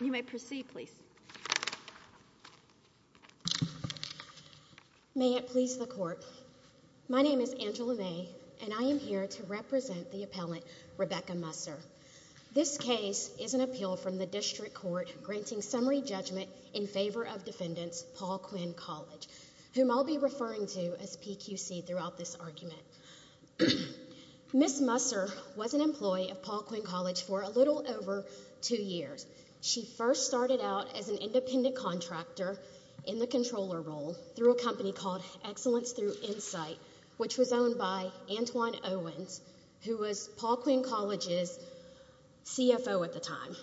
You may proceed, please. May it please the court, my name is Angela May and I am here to represent the appellant Rebecca Musser. This case is an appeal from the district court granting summary judgment in favor of defendants Paul Quinn College, whom I'll be referring to as PQC throughout this argument. Ms. Musser was an employee of Paul Quinn College for a little over two years. She first started out as an independent contractor in the controller role through a company called Excellence Through Insight, which was owned by Antoine Owens, who was Paul Quinn College's CFO at the time.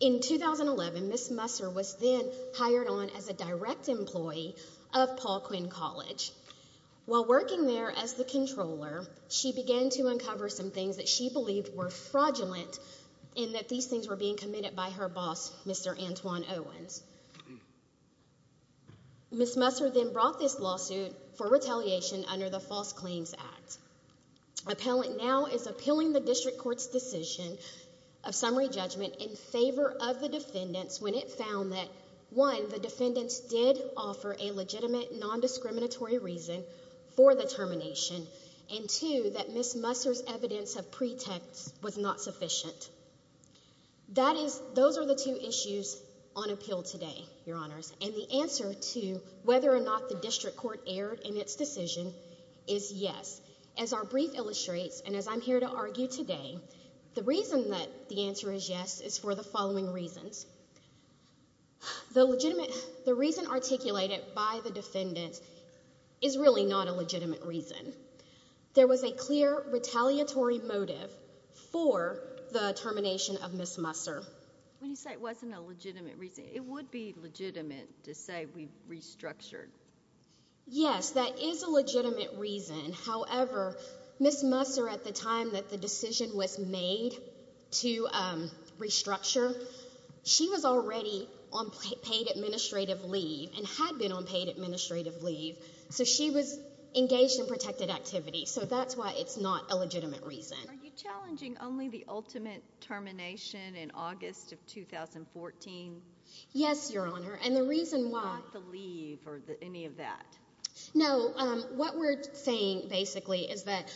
In 2011, Ms. Musser was then hired on as a direct employee of Paul Quinn College. While working there as the controller, she began to uncover some things that she believed were fraudulent and that these things were being committed by her boss, Mr. Antoine Owens. Ms. Musser then brought this lawsuit for retaliation under the False Claims Act. Appellant now is appealing the district court's decision of summary judgment in favor of the defendants when it found that, one, the defendants did offer a legitimate, non-discriminatory reason for the termination, and, two, that Ms. Musser's evidence of pretext was not sufficient. That is, those are the two issues on appeal today, Your Honors, and the answer to whether or not the district court erred in its decision is yes. As our brief illustrates, and as I'm here to argue today, the reason that the answer is yes is for the following reasons. The legitimate, the reason articulated by the defendant is really not a legitimate reason. There was a clear retaliatory motive for the termination of Ms. Musser. When you say it wasn't a legitimate reason, it would be legitimate to say we restructured. Yes, that is a legitimate reason, however, Ms. Musser at the time that the decision was made to restructure, she was already on paid administrative leave, and had been on paid administrative leave, so she was engaged in protected activity, so that's why it's not a legitimate reason. Are you challenging only the ultimate termination in August of 2014? Yes, Your Honor, and the reason why... Not the leave or any of that? No, what we're saying, basically, is that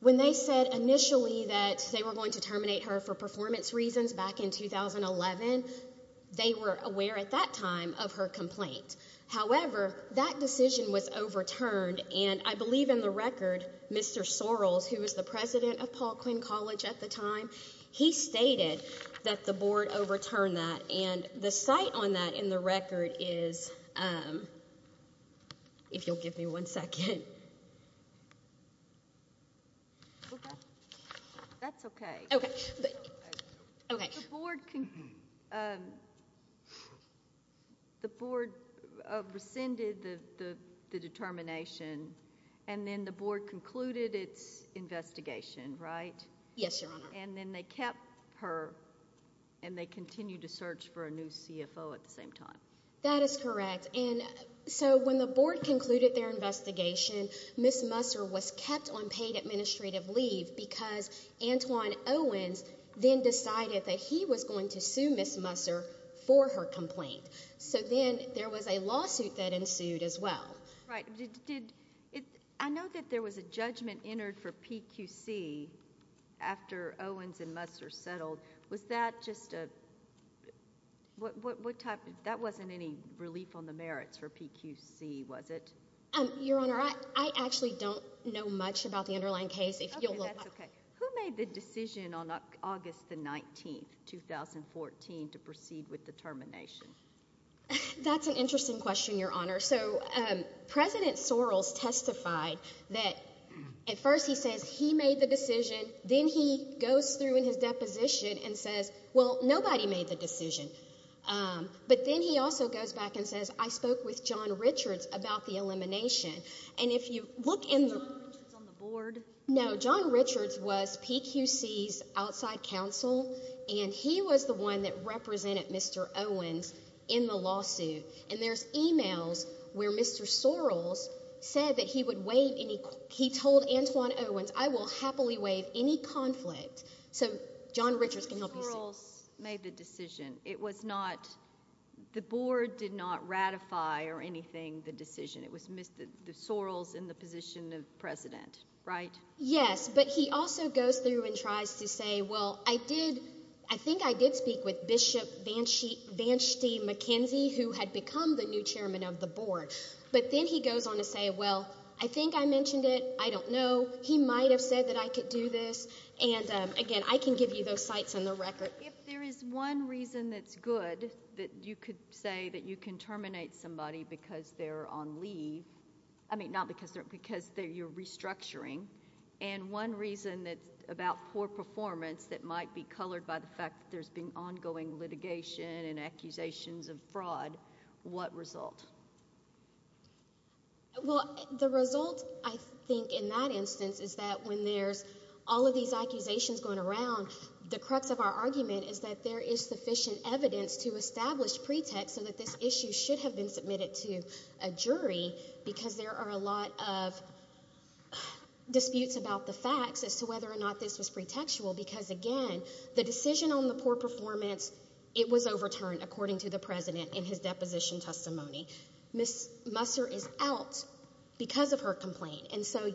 when they said initially that they were going to terminate her for performance reasons back in 2011, they were aware at that time of her complaint, however, that decision was overturned, and I believe in the record, Mr. Sorrells, who was the president of Paul Quinn College at the time, he stated that the board overturned that, and the site on that in the record is, if you'll give me one second. That's okay. Okay. The board rescinded the determination, and then the board concluded its investigation, right? Yes, Your Honor. And then they kept her, and they continued to search for a new CFO at the same time. That is correct, and so when the board concluded their investigation, Ms. Musser was kept on paid administrative leave because Antoine Owens then decided that he was going to sue Ms. Musser for her complaint, so then there was a lawsuit that ensued as well. Right. I know that there was a judgment entered for PQC after Owens and Musser settled. Was that just a... that wasn't any relief on the merits for PQC, was it? Your Honor, I actually don't know much about the underlying case. Okay, that's okay. Who made the decision on August the 19th, 2014, to proceed with the termination? That's an interesting question, Your Honor. So President Soros testified that at first he says he made the decision. Then he goes through in his deposition and says, well, nobody made the decision. But then he also goes back and says, I spoke with John Richards about the elimination. And if you look in... Was John Richards on the board? No, John Richards was PQC's outside counsel, and he was the one that represented Mr. Owens in the lawsuit. And there's e-mails where Mr. Soros said that he would waive any... he told Antoine Owens, I will happily waive any conflict. So John Richards can help you see. Soros made the decision. It was not... the board did not ratify or anything the decision. It was Soros in the position of president, right? Yes, but he also goes through and tries to say, well, I did... who had become the new chairman of the board. But then he goes on to say, well, I think I mentioned it. I don't know. He might have said that I could do this. And, again, I can give you those sites and the record. If there is one reason that's good that you could say that you can terminate somebody because they're on leave... I mean, not because they're... because you're restructuring. And, one reason that's about poor performance that might be colored by the fact that there's been ongoing litigation and accusations of fraud. What result? Well, the result, I think, in that instance is that when there's all of these accusations going around... the crux of our argument is that there is sufficient evidence to establish pretext... disputes about the facts, as to whether or not this was pretextual. Because, again, the decision on the poor performance, it was overturned, according to the president in his deposition testimony. Ms. Musser is out because of her complaint. And so,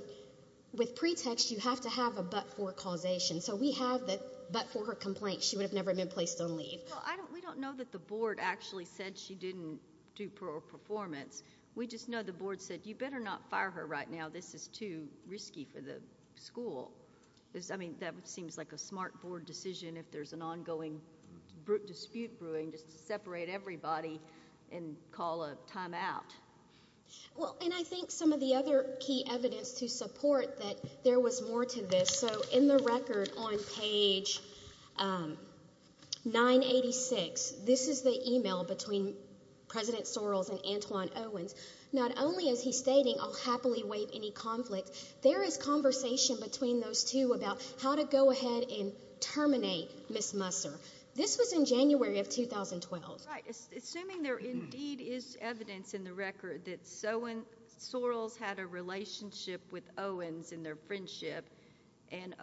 with pretext, you have to have a but-for causation. So, we have the but-for her complaint. She would have never been placed on leave. Well, we don't know that the board actually said she didn't do poor performance. We just know the board said, you better not fire her right now. This is too risky for the school. I mean, that seems like a smart board decision, if there's an ongoing dispute brewing, just to separate everybody and call a timeout. Well, and I think some of the other key evidence to support that there was more to this... So, in the record on page 986, this is the email between President Sorrells and Antoine Owens. Not only is he stating, I'll happily waive any conflict, there is conversation between those two about how to go ahead and terminate Ms. Musser. This was in January of 2012. Right. Assuming there indeed is evidence in the record that Sorrells had a relationship with Owens in their friendship... Do you think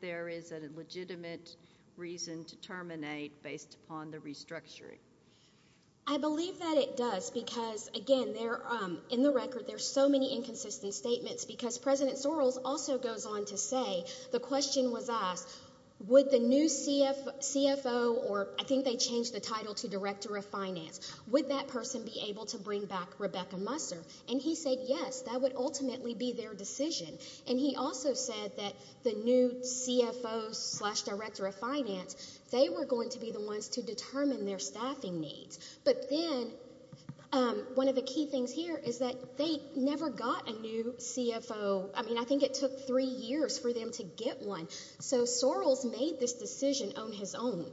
there is a legitimate reason to terminate, based upon the restructuring? I believe that it does, because again, there are... In the record, there are so many inconsistent statements, because President Sorrells also goes on to say... The question was asked, would the new CFO, or I think they changed the title to Director of Finance... Would that person be able to bring back Rebecca Musser? And, he said, yes, that would ultimately be their decision. And, he also said that the new CFO slash Director of Finance, they were going to be the ones to determine their staffing needs. But then, one of the key things here is that they never got a new CFO. I mean, I think it took three years for them to get one. So, Sorrells made this decision on his own.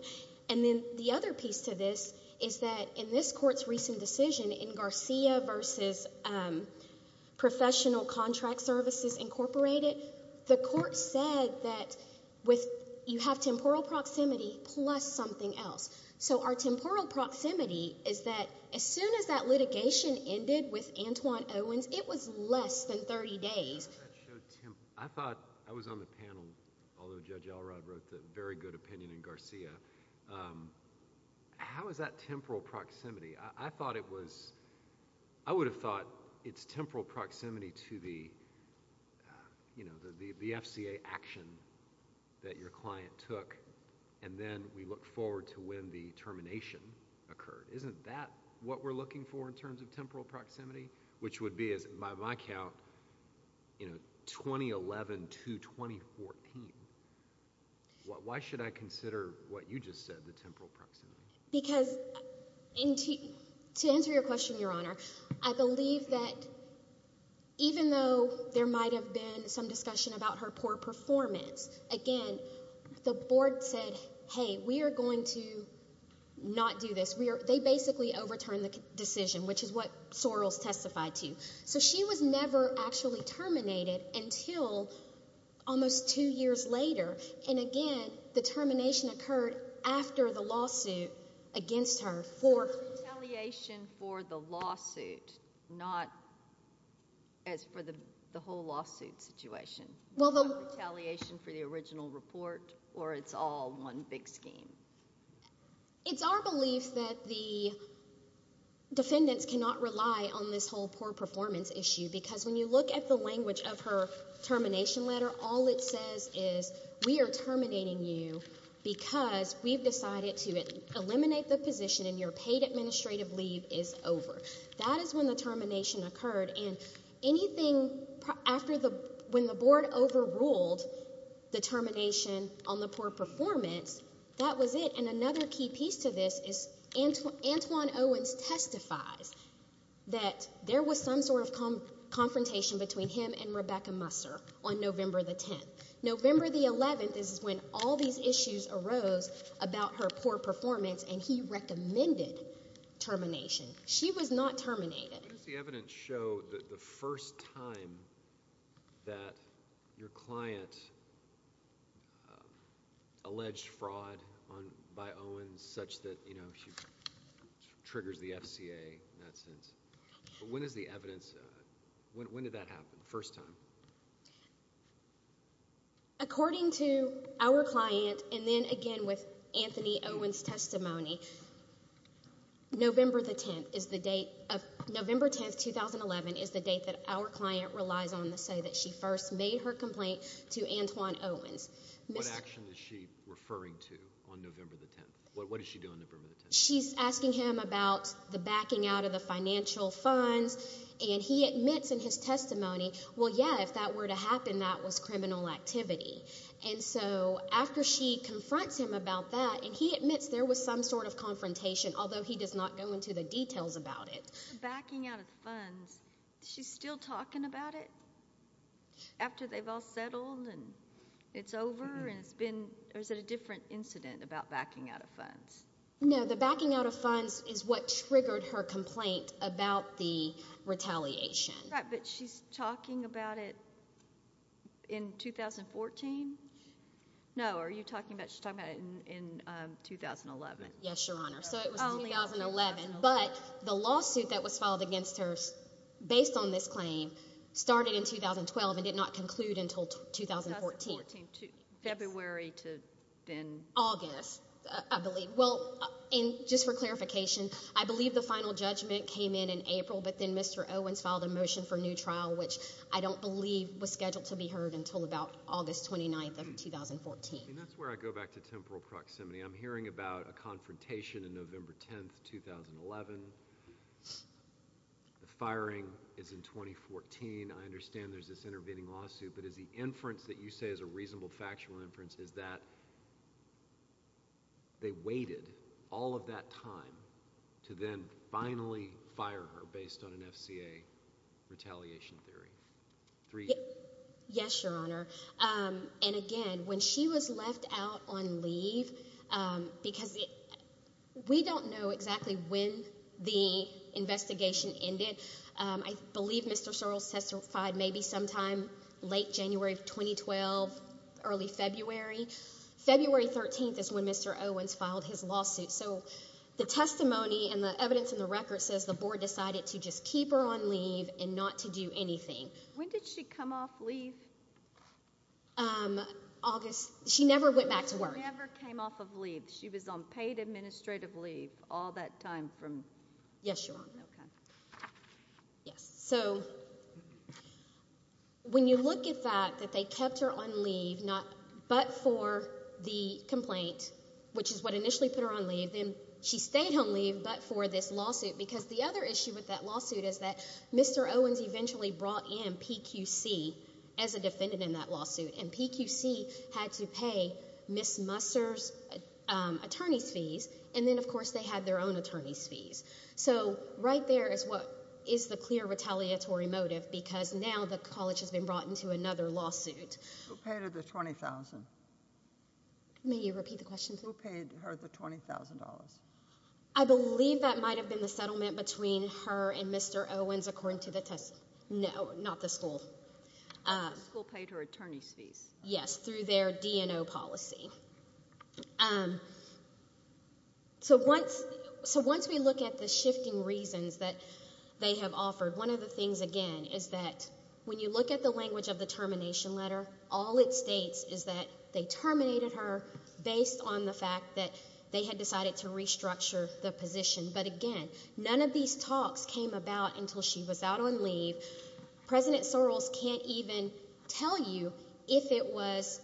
And then, the other piece to this is that in this Court's recent decision in Garcia versus Professional Contract Services, Incorporated... The Court said that with... you have temporal proximity, plus something else. So, our temporal proximity is that as soon as that litigation ended with Antoine Owens, it was less than 30 days. I thought... I was on the panel, although Judge Elrod wrote the very good opinion in Garcia. How is that temporal proximity? I thought it was... I would have thought it's temporal proximity to the, you know, the FCA action that your client took. And then, we look forward to when the termination occurred. Isn't that what we're looking for in terms of temporal proximity? Which would be, by my count, you know, 2011 to 2014. Why should I consider what you just said, the temporal proximity? Because, to answer your question, Your Honor, I believe that even though there might have been some discussion about her poor performance... Again, the Board said, hey, we are going to not do this. They basically overturned the decision, which is what Sorrells testified to. So, she was never actually terminated until almost two years later. And again, the termination occurred after the lawsuit against her for... So, retaliation for the lawsuit, not as for the whole lawsuit situation. Well, the... Not retaliation for the original report, or it's all one big scheme? It's our belief that the defendants cannot rely on this whole poor performance issue. Because, when you look at the language of her termination letter, all it says is... We are terminating you, because we've decided to eliminate the position and your paid administrative leave is over. That is when the termination occurred. And, anything after the... when the Board overruled the termination on the poor performance, that was it. And, another key piece to this is Antoine Owens testifies that there was some sort of confrontation between him and Rebecca Musser on November the 10th. November the 11th is when all these issues arose about her poor performance and he recommended termination. She was not terminated. When does the evidence show that the first time that your client alleged fraud by Owens such that, you know, she triggers the FCA in that sense? When is the evidence... when did that happen, the first time? According to our client, and then again with Anthony Owens' testimony, November the 10th is the date of... November 10th, 2011 is the date that our client relies on to say that she first made her complaint to Antoine Owens. What action is she referring to on November the 10th? What is she doing on November the 10th? She's asking him about the backing out of the financial funds, and he admits in his testimony, well, yeah, if that were to happen, that was criminal activity. And so, after she confronts him about that, and he admits there was some sort of confrontation, although he does not go into the details about it. Backing out of funds, she's still talking about it? After they've all settled and it's over and it's been... or is it a different incident about backing out of funds? No, the backing out of funds is what triggered her complaint about the retaliation. Right, but she's talking about it in 2014? No, are you talking about... she's talking about it in 2011? Yes, Your Honor, so it was 2011, but the lawsuit that was filed against her based on this claim started in 2012 and did not conclude until 2014. 2014, February to then... Well, and just for clarification, I believe the final judgment came in in April, but then Mr. Owens filed a motion for new trial, which I don't believe was scheduled to be heard until about August 29th of 2014. And that's where I go back to temporal proximity. I'm hearing about a confrontation on November 10th, 2011. The firing is in 2014. I understand there's this intervening lawsuit, but is the inference that you say is a reasonable factual inference is that they waited all of that time to then finally fire her based on an FCA retaliation theory? Yes, Your Honor, and again, when she was left out on leave, because we don't know exactly when the investigation ended. I believe Mr. Sorrell testified maybe sometime late January of 2012, early February. February 13th is when Mr. Owens filed his lawsuit, so the testimony and the evidence in the record says the Board decided to just keep her on leave and not to do anything. When did she come off leave? August... she never went back to work. She never came off of leave. She was on paid administrative leave all that time from... Yes, Your Honor. Yes, so when you look at that, that they kept her on leave but for the complaint, which is what initially put her on leave, then she stayed on leave but for this lawsuit, because the other issue with that lawsuit is that Mr. Owens eventually brought in PQC as a defendant in that lawsuit, and PQC had to pay Ms. Musser's attorney's fees, and then, of course, they had their own attorney's fees. So right there is what is the clear retaliatory motive, because now the college has been brought into another lawsuit. Who paid her the $20,000? May you repeat the question, please? Who paid her the $20,000? I believe that might have been the settlement between her and Mr. Owens, according to the testimony... no, not the school. The school paid her attorney's fees. Yes, through their D&O policy. So once we look at the shifting reasons that they have offered, one of the things, again, is that when you look at the language of the termination letter, all it states is that they terminated her based on the fact that they had decided to restructure the position. But again, none of these talks came about until she was out on leave. President Soros can't even tell you if it was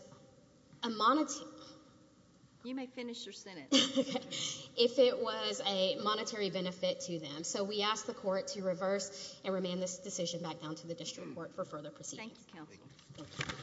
a monetary... You may finish your sentence. If it was a monetary benefit to them. So we ask the court to reverse and remand this decision back down to the district court for further proceedings. Thank you, Counsel. Thank you.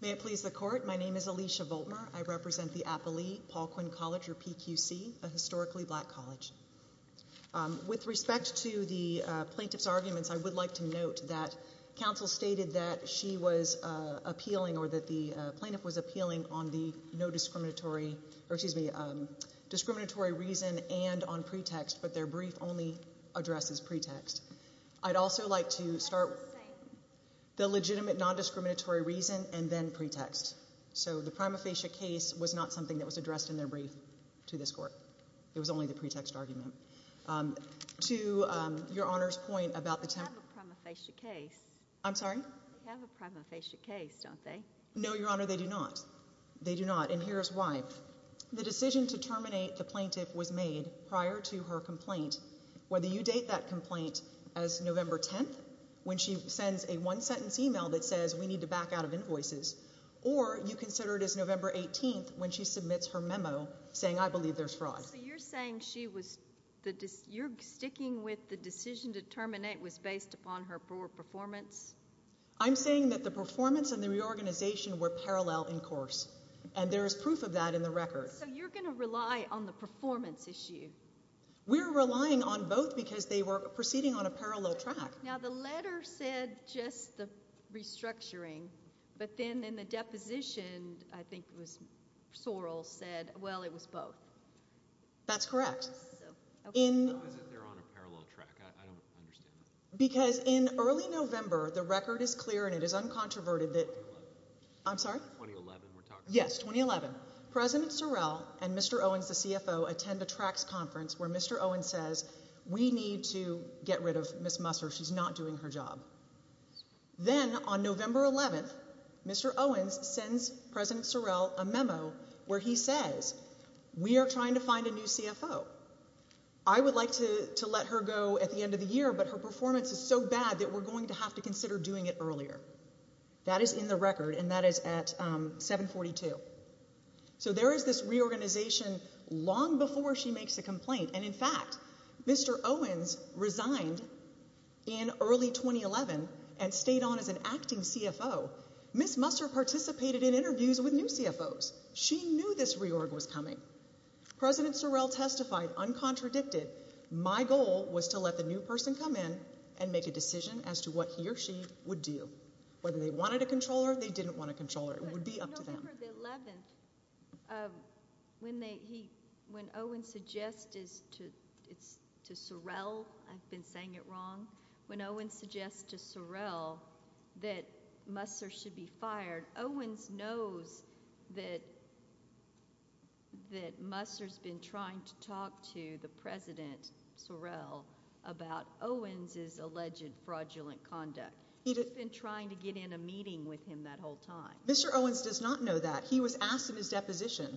May it please the court. My name is Alicia Voltmer. I represent the Applee-Paul Quinn College, or PQC, a historically black college. With respect to the plaintiff's arguments, I would like to note that Counsel stated that she was appealing or that the plaintiff was appealing on the no discriminatory... or excuse me, discriminatory reason and on pretext, but their brief only addresses pretext. I'd also like to start with the legitimate non discriminatory reason and then pretext. So, the prima facie case was not something that was addressed in their brief to this court. It was only the pretext argument. To Your Honor's point about the... They have a prima facie case. I'm sorry? They have a prima facie case, don't they? No, Your Honor, they do not. They do not. And here's why. The decision to terminate the plaintiff was made prior to her complaint. Whether you date that complaint as November 10th, when she sends a one sentence email that says, we need to back out of invoices... or you consider it as November 18th, when she submits her memo saying, I believe there's fraud. So, you're saying she was... you're sticking with the decision to terminate was based upon her poor performance? I'm saying that the performance and the reorganization were parallel in course. And there is proof of that in the record. So, you're going to rely on the performance issue? We're relying on both, because they were proceeding on a parallel track. Now, the letter said just the restructuring. But then, in the deposition, I think it was Sorrell said, well, it was both. That's correct. How is it they're on a parallel track? I don't understand that. Because in early November, the record is clear and it is uncontroverted that... 2011. I'm sorry? 2011, we're talking... Yes, 2011. President Sorrell and Mr. Owens, the CFO, attend a TRACS conference where Mr. Owens says, we need to get rid of Ms. Musser. She's not doing her job. Then, on November 11th, Mr. Owens sends President Sorrell a memo where he says, we are trying to find a new CFO. I would like to let her go at the end of the year, but her performance is so bad that we're going to have to consider doing it earlier. That is in the record and that is at 742. So, there is this reorganization long before she makes a complaint. And, in fact, Mr. Owens resigned in early 2011 and stayed on as an acting CFO. Ms. Musser participated in interviews with new CFOs. She knew this reorg was coming. President Sorrell testified, uncontradicted, my goal was to let the new person come in and make a decision as to what he or she would do. Whether they wanted a comptroller or they didn't want a comptroller, it would be up to them. November 11th, when Owens suggests to Sorrell, I've been saying it wrong, when Owens suggests to Sorrell that Musser should be fired, Owens knows that Musser's been trying to talk to the president, Sorrell, about Owens's alleged fraudulent conduct. He's been trying to get in a meeting with him that whole time. Mr. Owens does not know that. He was asked in his deposition,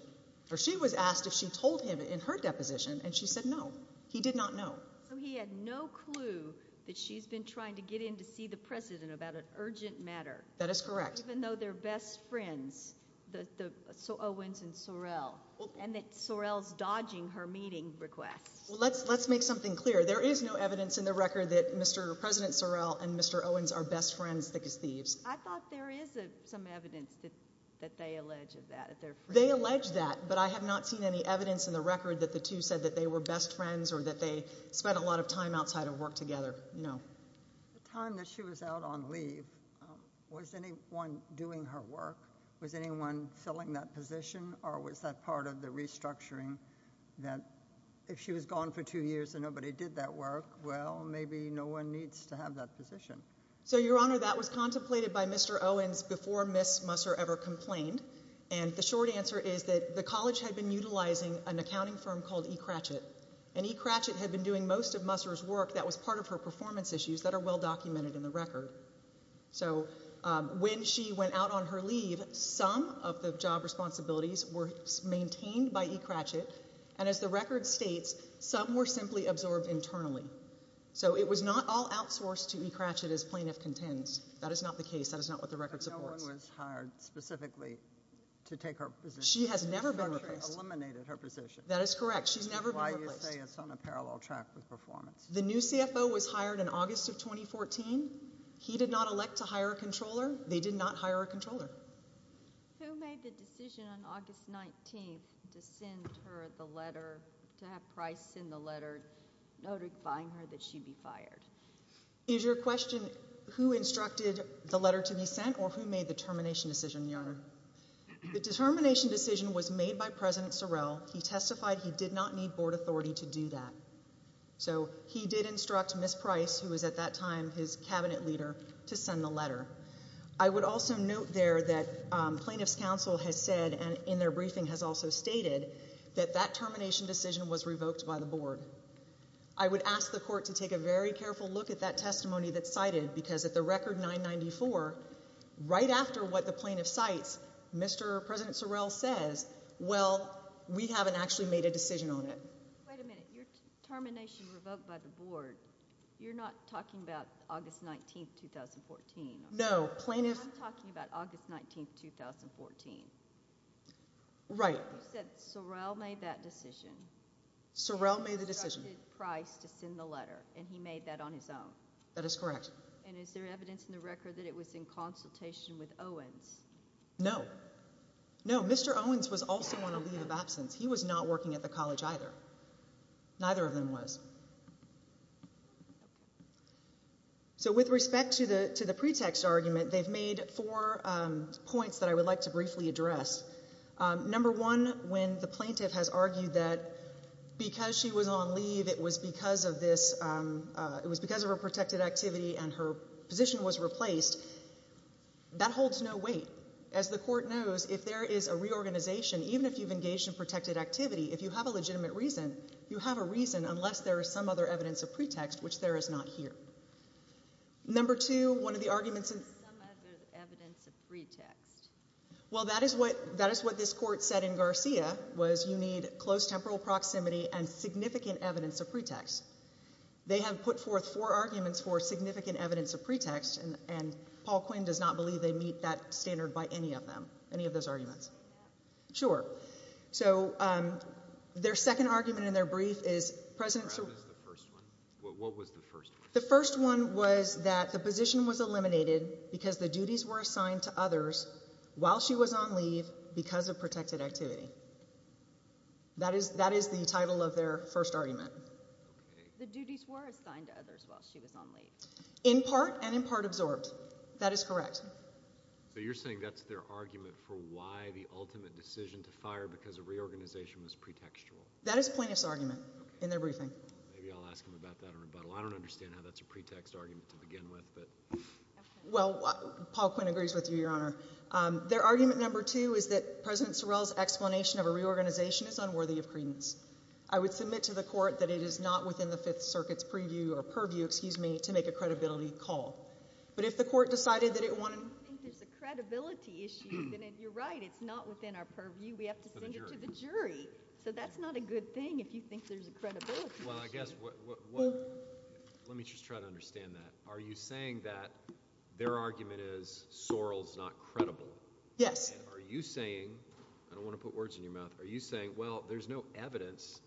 or she was asked if she told him in her deposition, and she said no. He did not know. So, he had no clue that she's been trying to get in to see the president about an urgent matter. That is correct. Even though they're best friends, Owens and Sorrell, and that Sorrell's dodging her meeting requests. Let's make something clear. There is no evidence in the record that Mr. President Sorrell and Mr. Owens are best friends that he's thieves. I thought there is some evidence that they allege that. They allege that, but I have not seen any evidence in the record that the two said that they were best friends or that they spent a lot of time outside of work together. No. The time that she was out on leave, was anyone doing her work? Was anyone filling that position, or was that part of the restructuring that if she was gone for two years and nobody did that work, well, maybe no one needs to have that position. So, Your Honor, that was contemplated by Mr. Owens before Ms. Musser ever complained, and the short answer is that the college had been utilizing an accounting firm called E. Cratchit, and E. Cratchit had been doing most of Musser's work that was part of her performance issues that are well documented in the record. So, when she went out on her leave, some of the job responsibilities were maintained by E. Cratchit, and as the record states, some were simply absorbed internally. So, it was not all outsourced to E. Cratchit as plaintiff contends. That is not the case. That is not what the record supports. But no one was hired specifically to take her position. She has never been replaced. She virtually eliminated her position. That is correct. She's never been replaced. Why do you say it's on a parallel track with performance? The new CFO was hired in August of 2014. He did not elect to hire a controller. They did not hire a controller. Who made the decision on August 19th to send her the letter, to have Price send the letter notifying her that she'd be fired? Is your question who instructed the letter to be sent or who made the termination decision, Your Honor? The termination decision was made by President Sorrell. He testified he did not need board authority to do that. So, he did instruct Ms. Price, who was at that time his cabinet leader, to send the letter. I would also note there that plaintiff's counsel has said and in their briefing has also stated that that termination decision was revoked by the board. I would ask the court to take a very careful look at that testimony that's cited because at the record 994, right after what the plaintiff cites, Mr. President Sorrell says, well, we haven't actually made a decision on it. Wait a minute. Your termination revoked by the board, you're not talking about August 19th, 2014. No. Plaintiff… I'm talking about August 19th, 2014. Right. You said Sorrell made that decision. Sorrell made the decision. He instructed Price to send the letter and he made that on his own. That is correct. And is there evidence in the record that it was in consultation with Owens? No. No. Mr. Owens was also on a leave of absence. He was not working at the college either. Neither of them was. So with respect to the pretext argument, they've made four points that I would like to briefly address. Number one, when the plaintiff has argued that because she was on leave, it was because of this, it was because of her protected activity and her position was replaced, that holds no weight. As the court knows, if there is a reorganization, even if you've engaged in protected activity, if you have a legitimate reason, you have a reason unless there is some other evidence of pretext, which there is not here. Number two, one of the arguments… Some other evidence of pretext. Well, that is what this court said in Garcia, was you need close temporal proximity and significant evidence of pretext. They have put forth four arguments for significant evidence of pretext, and Paul Quinn does not believe they meet that standard by any of them, any of those arguments. Sure. So their second argument in their brief is… What was the first one? The first one was that the position was eliminated because the duties were assigned to others while she was on leave because of protected activity. That is the title of their first argument. The duties were assigned to others while she was on leave. In part and in part absorbed. That is correct. So you're saying that's their argument for why the ultimate decision to fire because of reorganization was pretextual. That is Plaintiff's argument in their briefing. Maybe I'll ask him about that in rebuttal. I don't understand how that's a pretext argument to begin with, but… Well, Paul Quinn agrees with you, Your Honor. Their argument number two is that President Sorrell's explanation of a reorganization is unworthy of credence. I would submit to the court that it is not within the Fifth Circuit's purview to make a credibility call. But if the court decided that it wanted… I think there's a credibility issue. You're right. It's not within our purview. We have to send it to the jury. So that's not a good thing if you think there's a credibility issue. Well, I guess what – let me just try to understand that. Are you saying that their argument is Sorrell's not credible? Yes. Are you saying – I don't want to put words in your mouth. Are you saying, well, there's no evidence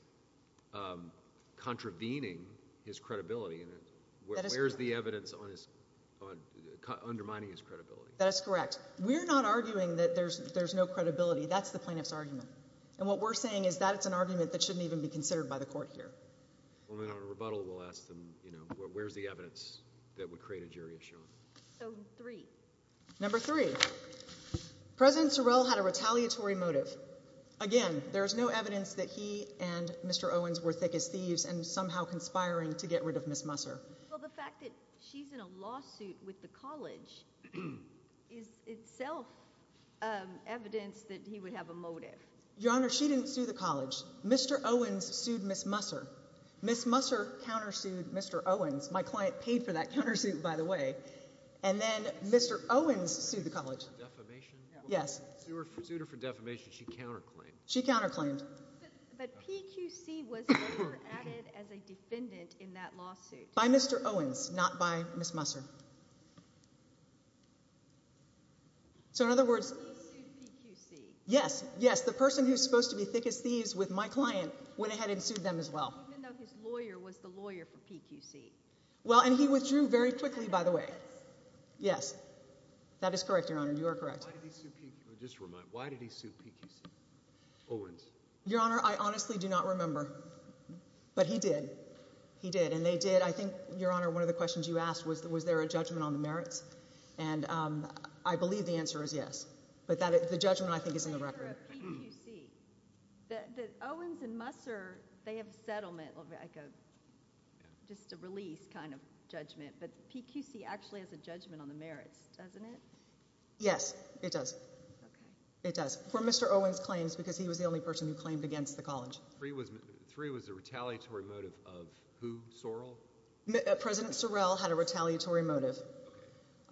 contravening his credibility? Where's the evidence undermining his credibility? That is correct. We're not arguing that there's no credibility. That's the plaintiff's argument. And what we're saying is that it's an argument that shouldn't even be considered by the court here. Well, then, on rebuttal, we'll ask them, you know, where's the evidence that would create a jury issue? So, three. Number three. President Sorrell had a retaliatory motive. Again, there is no evidence that he and Mr. Owens were thick as thieves and somehow conspiring to get rid of Ms. Musser. Well, the fact that she's in a lawsuit with the college is itself evidence that he would have a motive. Your Honor, she didn't sue the college. Mr. Owens sued Ms. Musser. Ms. Musser countersued Mr. Owens. My client paid for that countersuit, by the way. And then Mr. Owens sued the college. Defamation? Yes. Sued her for defamation. She counterclaimed. She counterclaimed. But PQC was never added as a defendant in that lawsuit. By Mr. Owens, not by Ms. Musser. So, in other words— He sued PQC. Yes, yes. The person who's supposed to be thick as thieves with my client went ahead and sued them as well. Even though his lawyer was the lawyer for PQC. Well, and he withdrew very quickly, by the way. Yes. That is correct, Your Honor. You are correct. Why did he sue PQC? Owens. Your Honor, I honestly do not remember. But he did. He did. And they did—I think, Your Honor, one of the questions you asked was, was there a judgment on the merits? And I believe the answer is yes. But the judgment, I think, is in the record. I'm not sure of PQC. Owens and Musser, they have a settlement, just a release kind of judgment. But PQC actually has a judgment on the merits, doesn't it? Yes, it does. Okay. It does. For Mr. Owens' claims, because he was the only person who claimed against the college. Three was the retaliatory motive of who? Sorrell? President Sorrell had a retaliatory motive.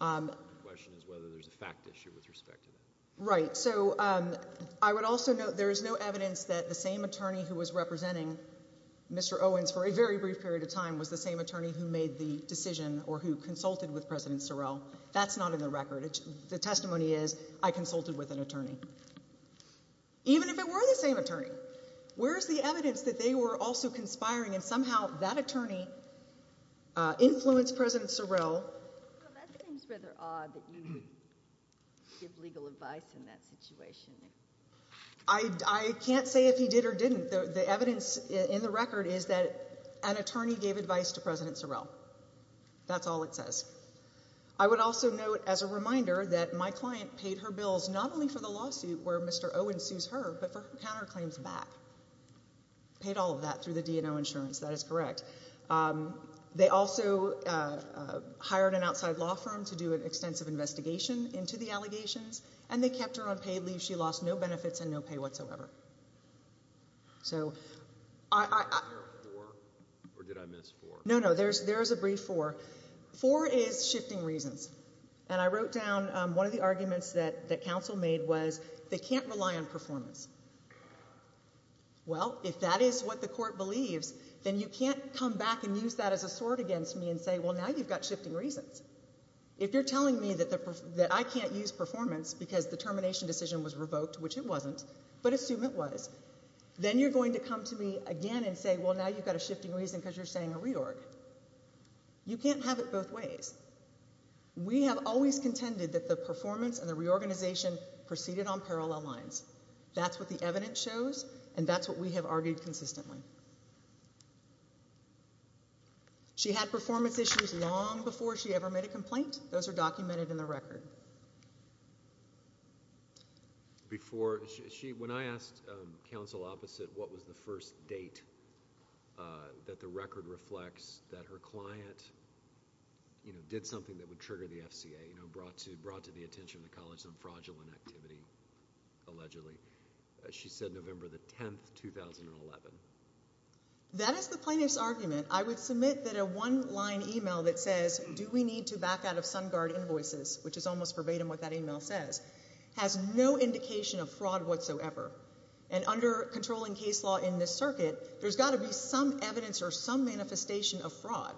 Okay. The question is whether there's a fact issue with respect to that. Right. So I would also note there is no evidence that the same attorney who was representing Mr. Owens for a very brief period of time was the same attorney who made the decision or who consulted with President Sorrell. That's not in the record. The testimony is I consulted with an attorney, even if it were the same attorney. Where is the evidence that they were also conspiring and somehow that attorney influenced President Sorrell? Well, that seems rather odd that you would give legal advice in that situation. I can't say if he did or didn't. The evidence in the record is that an attorney gave advice to President Sorrell. That's all it says. I would also note as a reminder that my client paid her bills not only for the lawsuit where Mr. Owens sues her, but for her counterclaims back. Paid all of that through the D&O insurance. That is correct. They also hired an outside law firm to do an extensive investigation into the allegations, and they kept her on paid leave. She lost no benefits and no pay whatsoever. So I— Is there a four or did I miss four? No, no. There is a brief four. Four is shifting reasons. And I wrote down one of the arguments that counsel made was they can't rely on performance. Well, if that is what the court believes, then you can't come back and use that as a sword against me and say, well, now you've got shifting reasons. If you're telling me that I can't use performance because the termination decision was revoked, which it wasn't, but assume it was, then you're going to come to me again and say, well, now you've got a shifting reason because you're saying a reorg. You can't have it both ways. We have always contended that the performance and the reorganization proceeded on parallel lines. That's what the evidence shows, and that's what we have argued consistently. She had performance issues long before she ever made a complaint. Those are documented in the record. Before she, when I asked counsel opposite what was the first date that the record reflects that her client, you know, did something that would trigger the FCA, you know, brought to the attention of the college some fraudulent activity, allegedly. She said November the 10th, 2011. That is the plaintiff's argument. I would submit that a one-line e-mail that says, do we need to back out of Sun Guard invoices, which is almost verbatim what that e-mail says, has no indication of fraud whatsoever. And under controlling case law in this circuit, there's got to be some evidence or some manifestation of fraud.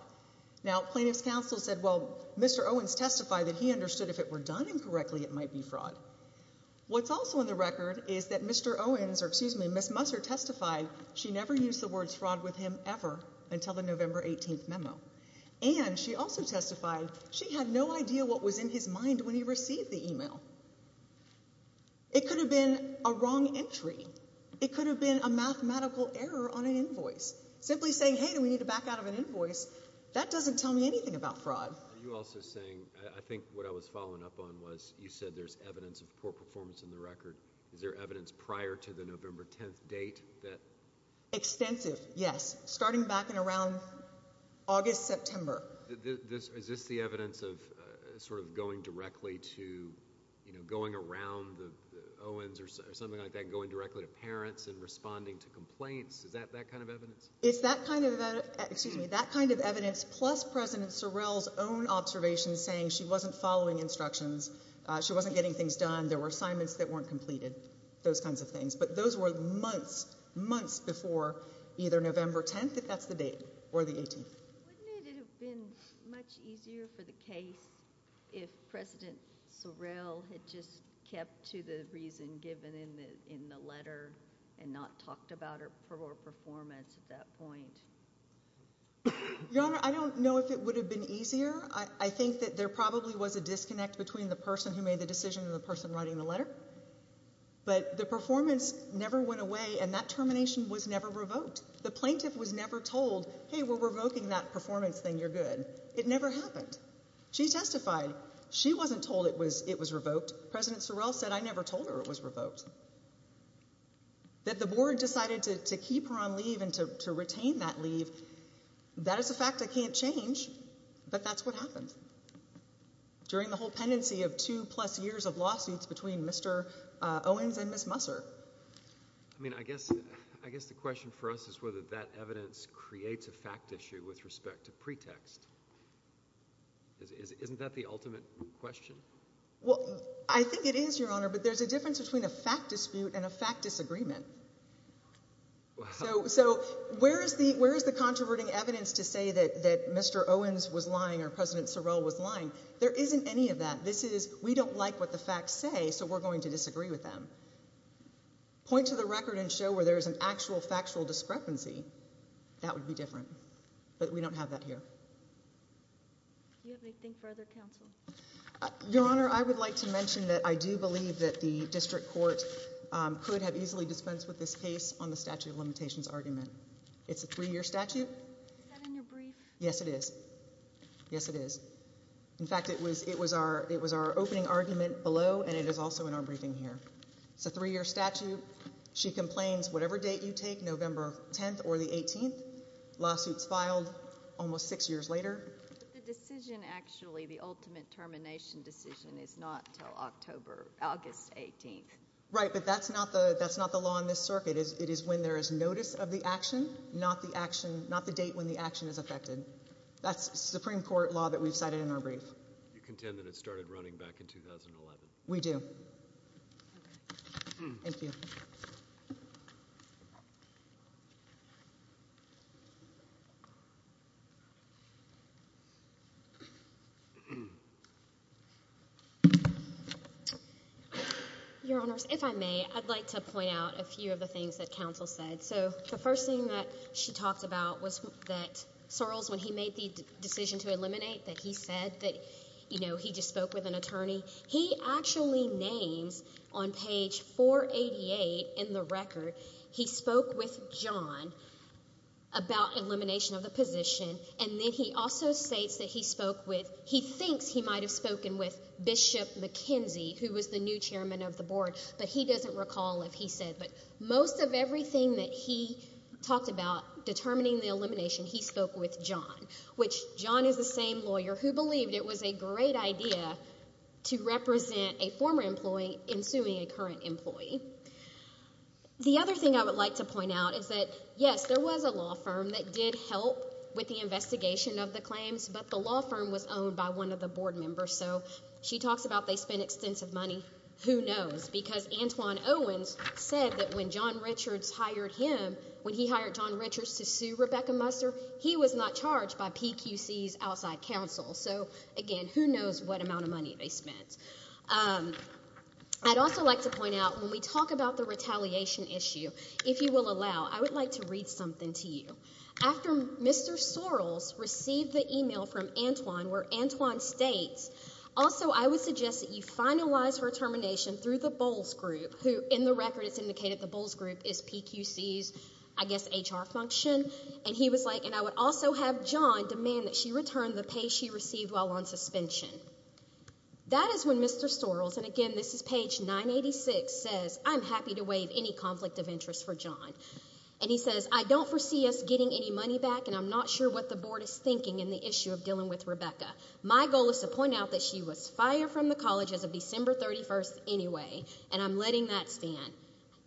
Now, plaintiff's counsel said, well, Mr. Owens testified that he understood if it were done incorrectly, it might be fraud. What's also in the record is that Mr. Owens, or excuse me, Ms. Musser testified she never used the words fraud with him ever until the November 18th memo. And she also testified she had no idea what was in his mind when he received the e-mail. It could have been a wrong entry. It could have been a mathematical error on an invoice. Simply saying, hey, do we need to back out of an invoice, that doesn't tell me anything about fraud. Are you also saying, I think what I was following up on was you said there's evidence of poor performance in the record. Is there evidence prior to the November 10th date that? Extensive, yes, starting back in around August, September. Is this the evidence of sort of going directly to, you know, going around the Owens or something like that, going directly to parents and responding to complaints? Is that that kind of evidence? It's that kind of, excuse me, that kind of evidence plus President Sorrell's own observations saying she wasn't following instructions. She wasn't getting things done. There were assignments that weren't completed, those kinds of things. But those were months, months before either November 10th, if that's the date, or the 18th. Wouldn't it have been much easier for the case if President Sorrell had just kept to the reason given in the letter and not talked about her poor performance at that point? Your Honor, I don't know if it would have been easier. I think that there probably was a disconnect between the person who made the decision and the person writing the letter. But the performance never went away, and that termination was never revoked. The plaintiff was never told, hey, we're revoking that performance thing, you're good. It never happened. She testified. She wasn't told it was revoked. President Sorrell said, I never told her it was revoked. That the board decided to keep her on leave and to retain that leave, that is a fact I can't change, but that's what happened. During the whole pendency of two-plus years of lawsuits between Mr. Owens and Ms. Musser. I mean, I guess the question for us is whether that evidence creates a fact issue with respect to pretext. Isn't that the ultimate question? Well, I think it is, Your Honor, but there's a difference between a fact dispute and a fact disagreement. So where is the controverting evidence to say that Mr. Owens was lying or President Sorrell was lying? There isn't any of that. This is, we don't like what the facts say, so we're going to disagree with them. Point to the record and show where there is an actual factual discrepancy, that would be different. But we don't have that here. Do you have anything further, counsel? Your Honor, I would like to mention that I do believe that the district court could have easily dispensed with this case on the statute of limitations argument. It's a three-year statute. Is that in your brief? Yes, it is. Yes, it is. In fact, it was our opening argument below, and it is also in our briefing here. It's a three-year statute. She complains whatever date you take, November 10th or the 18th. Lawsuits filed almost six years later. The decision, actually, the ultimate termination decision is not until October, August 18th. Right, but that's not the law in this circuit. It is when there is notice of the action, not the date when the action is effected. That's Supreme Court law that we've cited in our brief. You contend that it started running back in 2011? We do. Okay. Thank you. Your Honors, if I may, I'd like to point out a few of the things that counsel said. So the first thing that she talked about was that Sorrells, when he made the decision to eliminate, that he said that, you know, he just spoke with an attorney. He actually names on page 488 in the record, he spoke with John about elimination of the position, and then he also states that he spoke with, he thinks he might have spoken with Bishop McKenzie, who was the new chairman of the board, but he doesn't recall if he said. But most of everything that he talked about determining the elimination, he spoke with John, which John is the same lawyer who believed it was a great idea to represent a former employee in suing a current employee. The other thing I would like to point out is that, yes, there was a law firm that did help with the investigation of the claims, but the law firm was owned by one of the board members, so she talks about they spent extensive money. Who knows? Because Antoine Owens said that when John Richards hired him, when he hired John Richards to sue Rebecca Musser, he was not charged by PQC's outside counsel. So, again, who knows what amount of money they spent. I'd also like to point out, when we talk about the retaliation issue, if you will allow, I would like to read something to you. After Mr. Sorrells received the email from Antoine where Antoine states, also I would suggest that you finalize her termination through the Bowles Group, who in the record it's indicated the Bowles Group is PQC's, I guess, HR function. And he was like, and I would also have John demand that she return the pay she received while on suspension. That is when Mr. Sorrells, and, again, this is page 986, says, I'm happy to waive any conflict of interest for John. And he says, I don't foresee us getting any money back, and I'm not sure what the board is thinking in the issue of dealing with Rebecca. My goal is to point out that she was fired from the college as of December 31st anyway, and I'm letting that stand.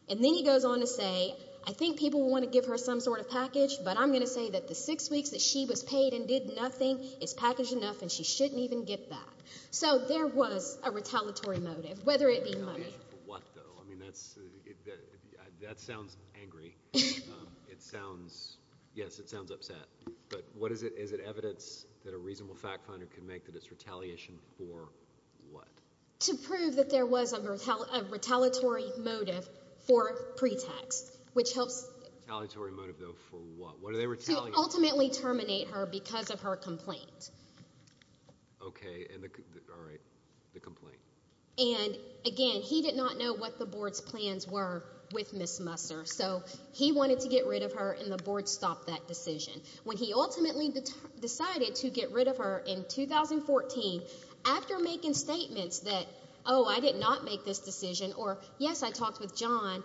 And then he goes on to say, I think people will want to give her some sort of package, but I'm going to say that the six weeks that she was paid and did nothing is package enough, and she shouldn't even get that. So there was a retaliatory motive, whether it be money. Retaliation for what, though? I mean, that sounds angry. It sounds, yes, it sounds upset. But what is it? Is it evidence that a reasonable fact finder can make that it's retaliation for what? To prove that there was a retaliatory motive for pretext, which helps. Retaliatory motive, though, for what? To ultimately terminate her because of her complaint. Okay. All right, the complaint. And, again, he did not know what the board's plans were with Ms. Musser, so he wanted to get rid of her and the board stopped that decision. When he ultimately decided to get rid of her in 2014, after making statements that, oh, I did not make this decision, or, yes, I talked with John,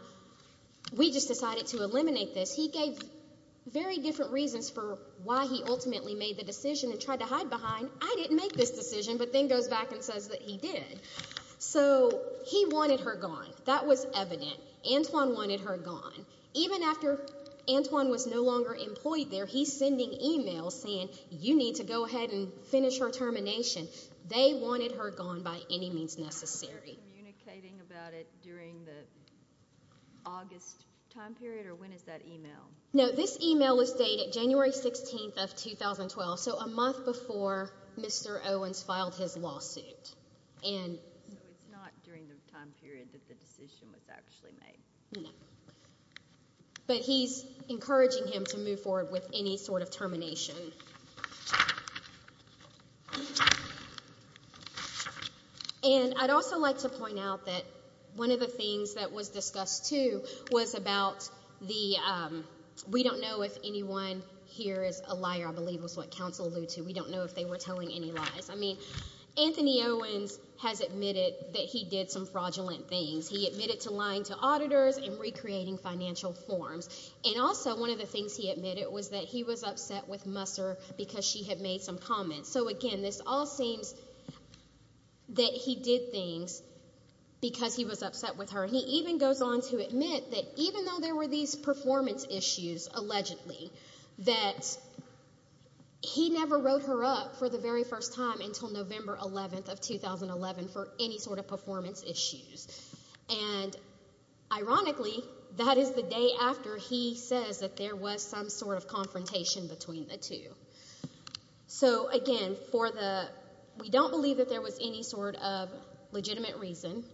we just decided to eliminate this, he gave very different reasons for why he ultimately made the decision and tried to hide behind, I didn't make this decision, but then goes back and says that he did. So he wanted her gone. That was evident. Antwon wanted her gone. Even after Antwon was no longer employed there, he's sending emails saying, you need to go ahead and finish her termination. They wanted her gone by any means necessary. Was there communicating about it during the August time period, or when is that email? No, this email was dated January 16th of 2012, so a month before Mr. Owens filed his lawsuit. So it's not during the time period that the decision was actually made. No. But he's encouraging him to move forward with any sort of termination. And I'd also like to point out that one of the things that was discussed, too, was about the, we don't know if anyone here is a liar, I believe is what counsel alludes to. We don't know if they were telling any lies. I mean, Anthony Owens has admitted that he did some fraudulent things. He admitted to lying to auditors and recreating financial forms. And also one of the things he admitted was that he was upset with Musser because she had made some comments. So, again, this all seems that he did things because he was upset with her. He even goes on to admit that even though there were these performance issues, allegedly, that he never wrote her up for the very first time until November 11th of 2011 for any sort of performance issues. And, ironically, that is the day after he says that there was some sort of confrontation between the two. So, again, for the, we don't believe that there was any sort of legitimate reason.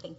Thank you.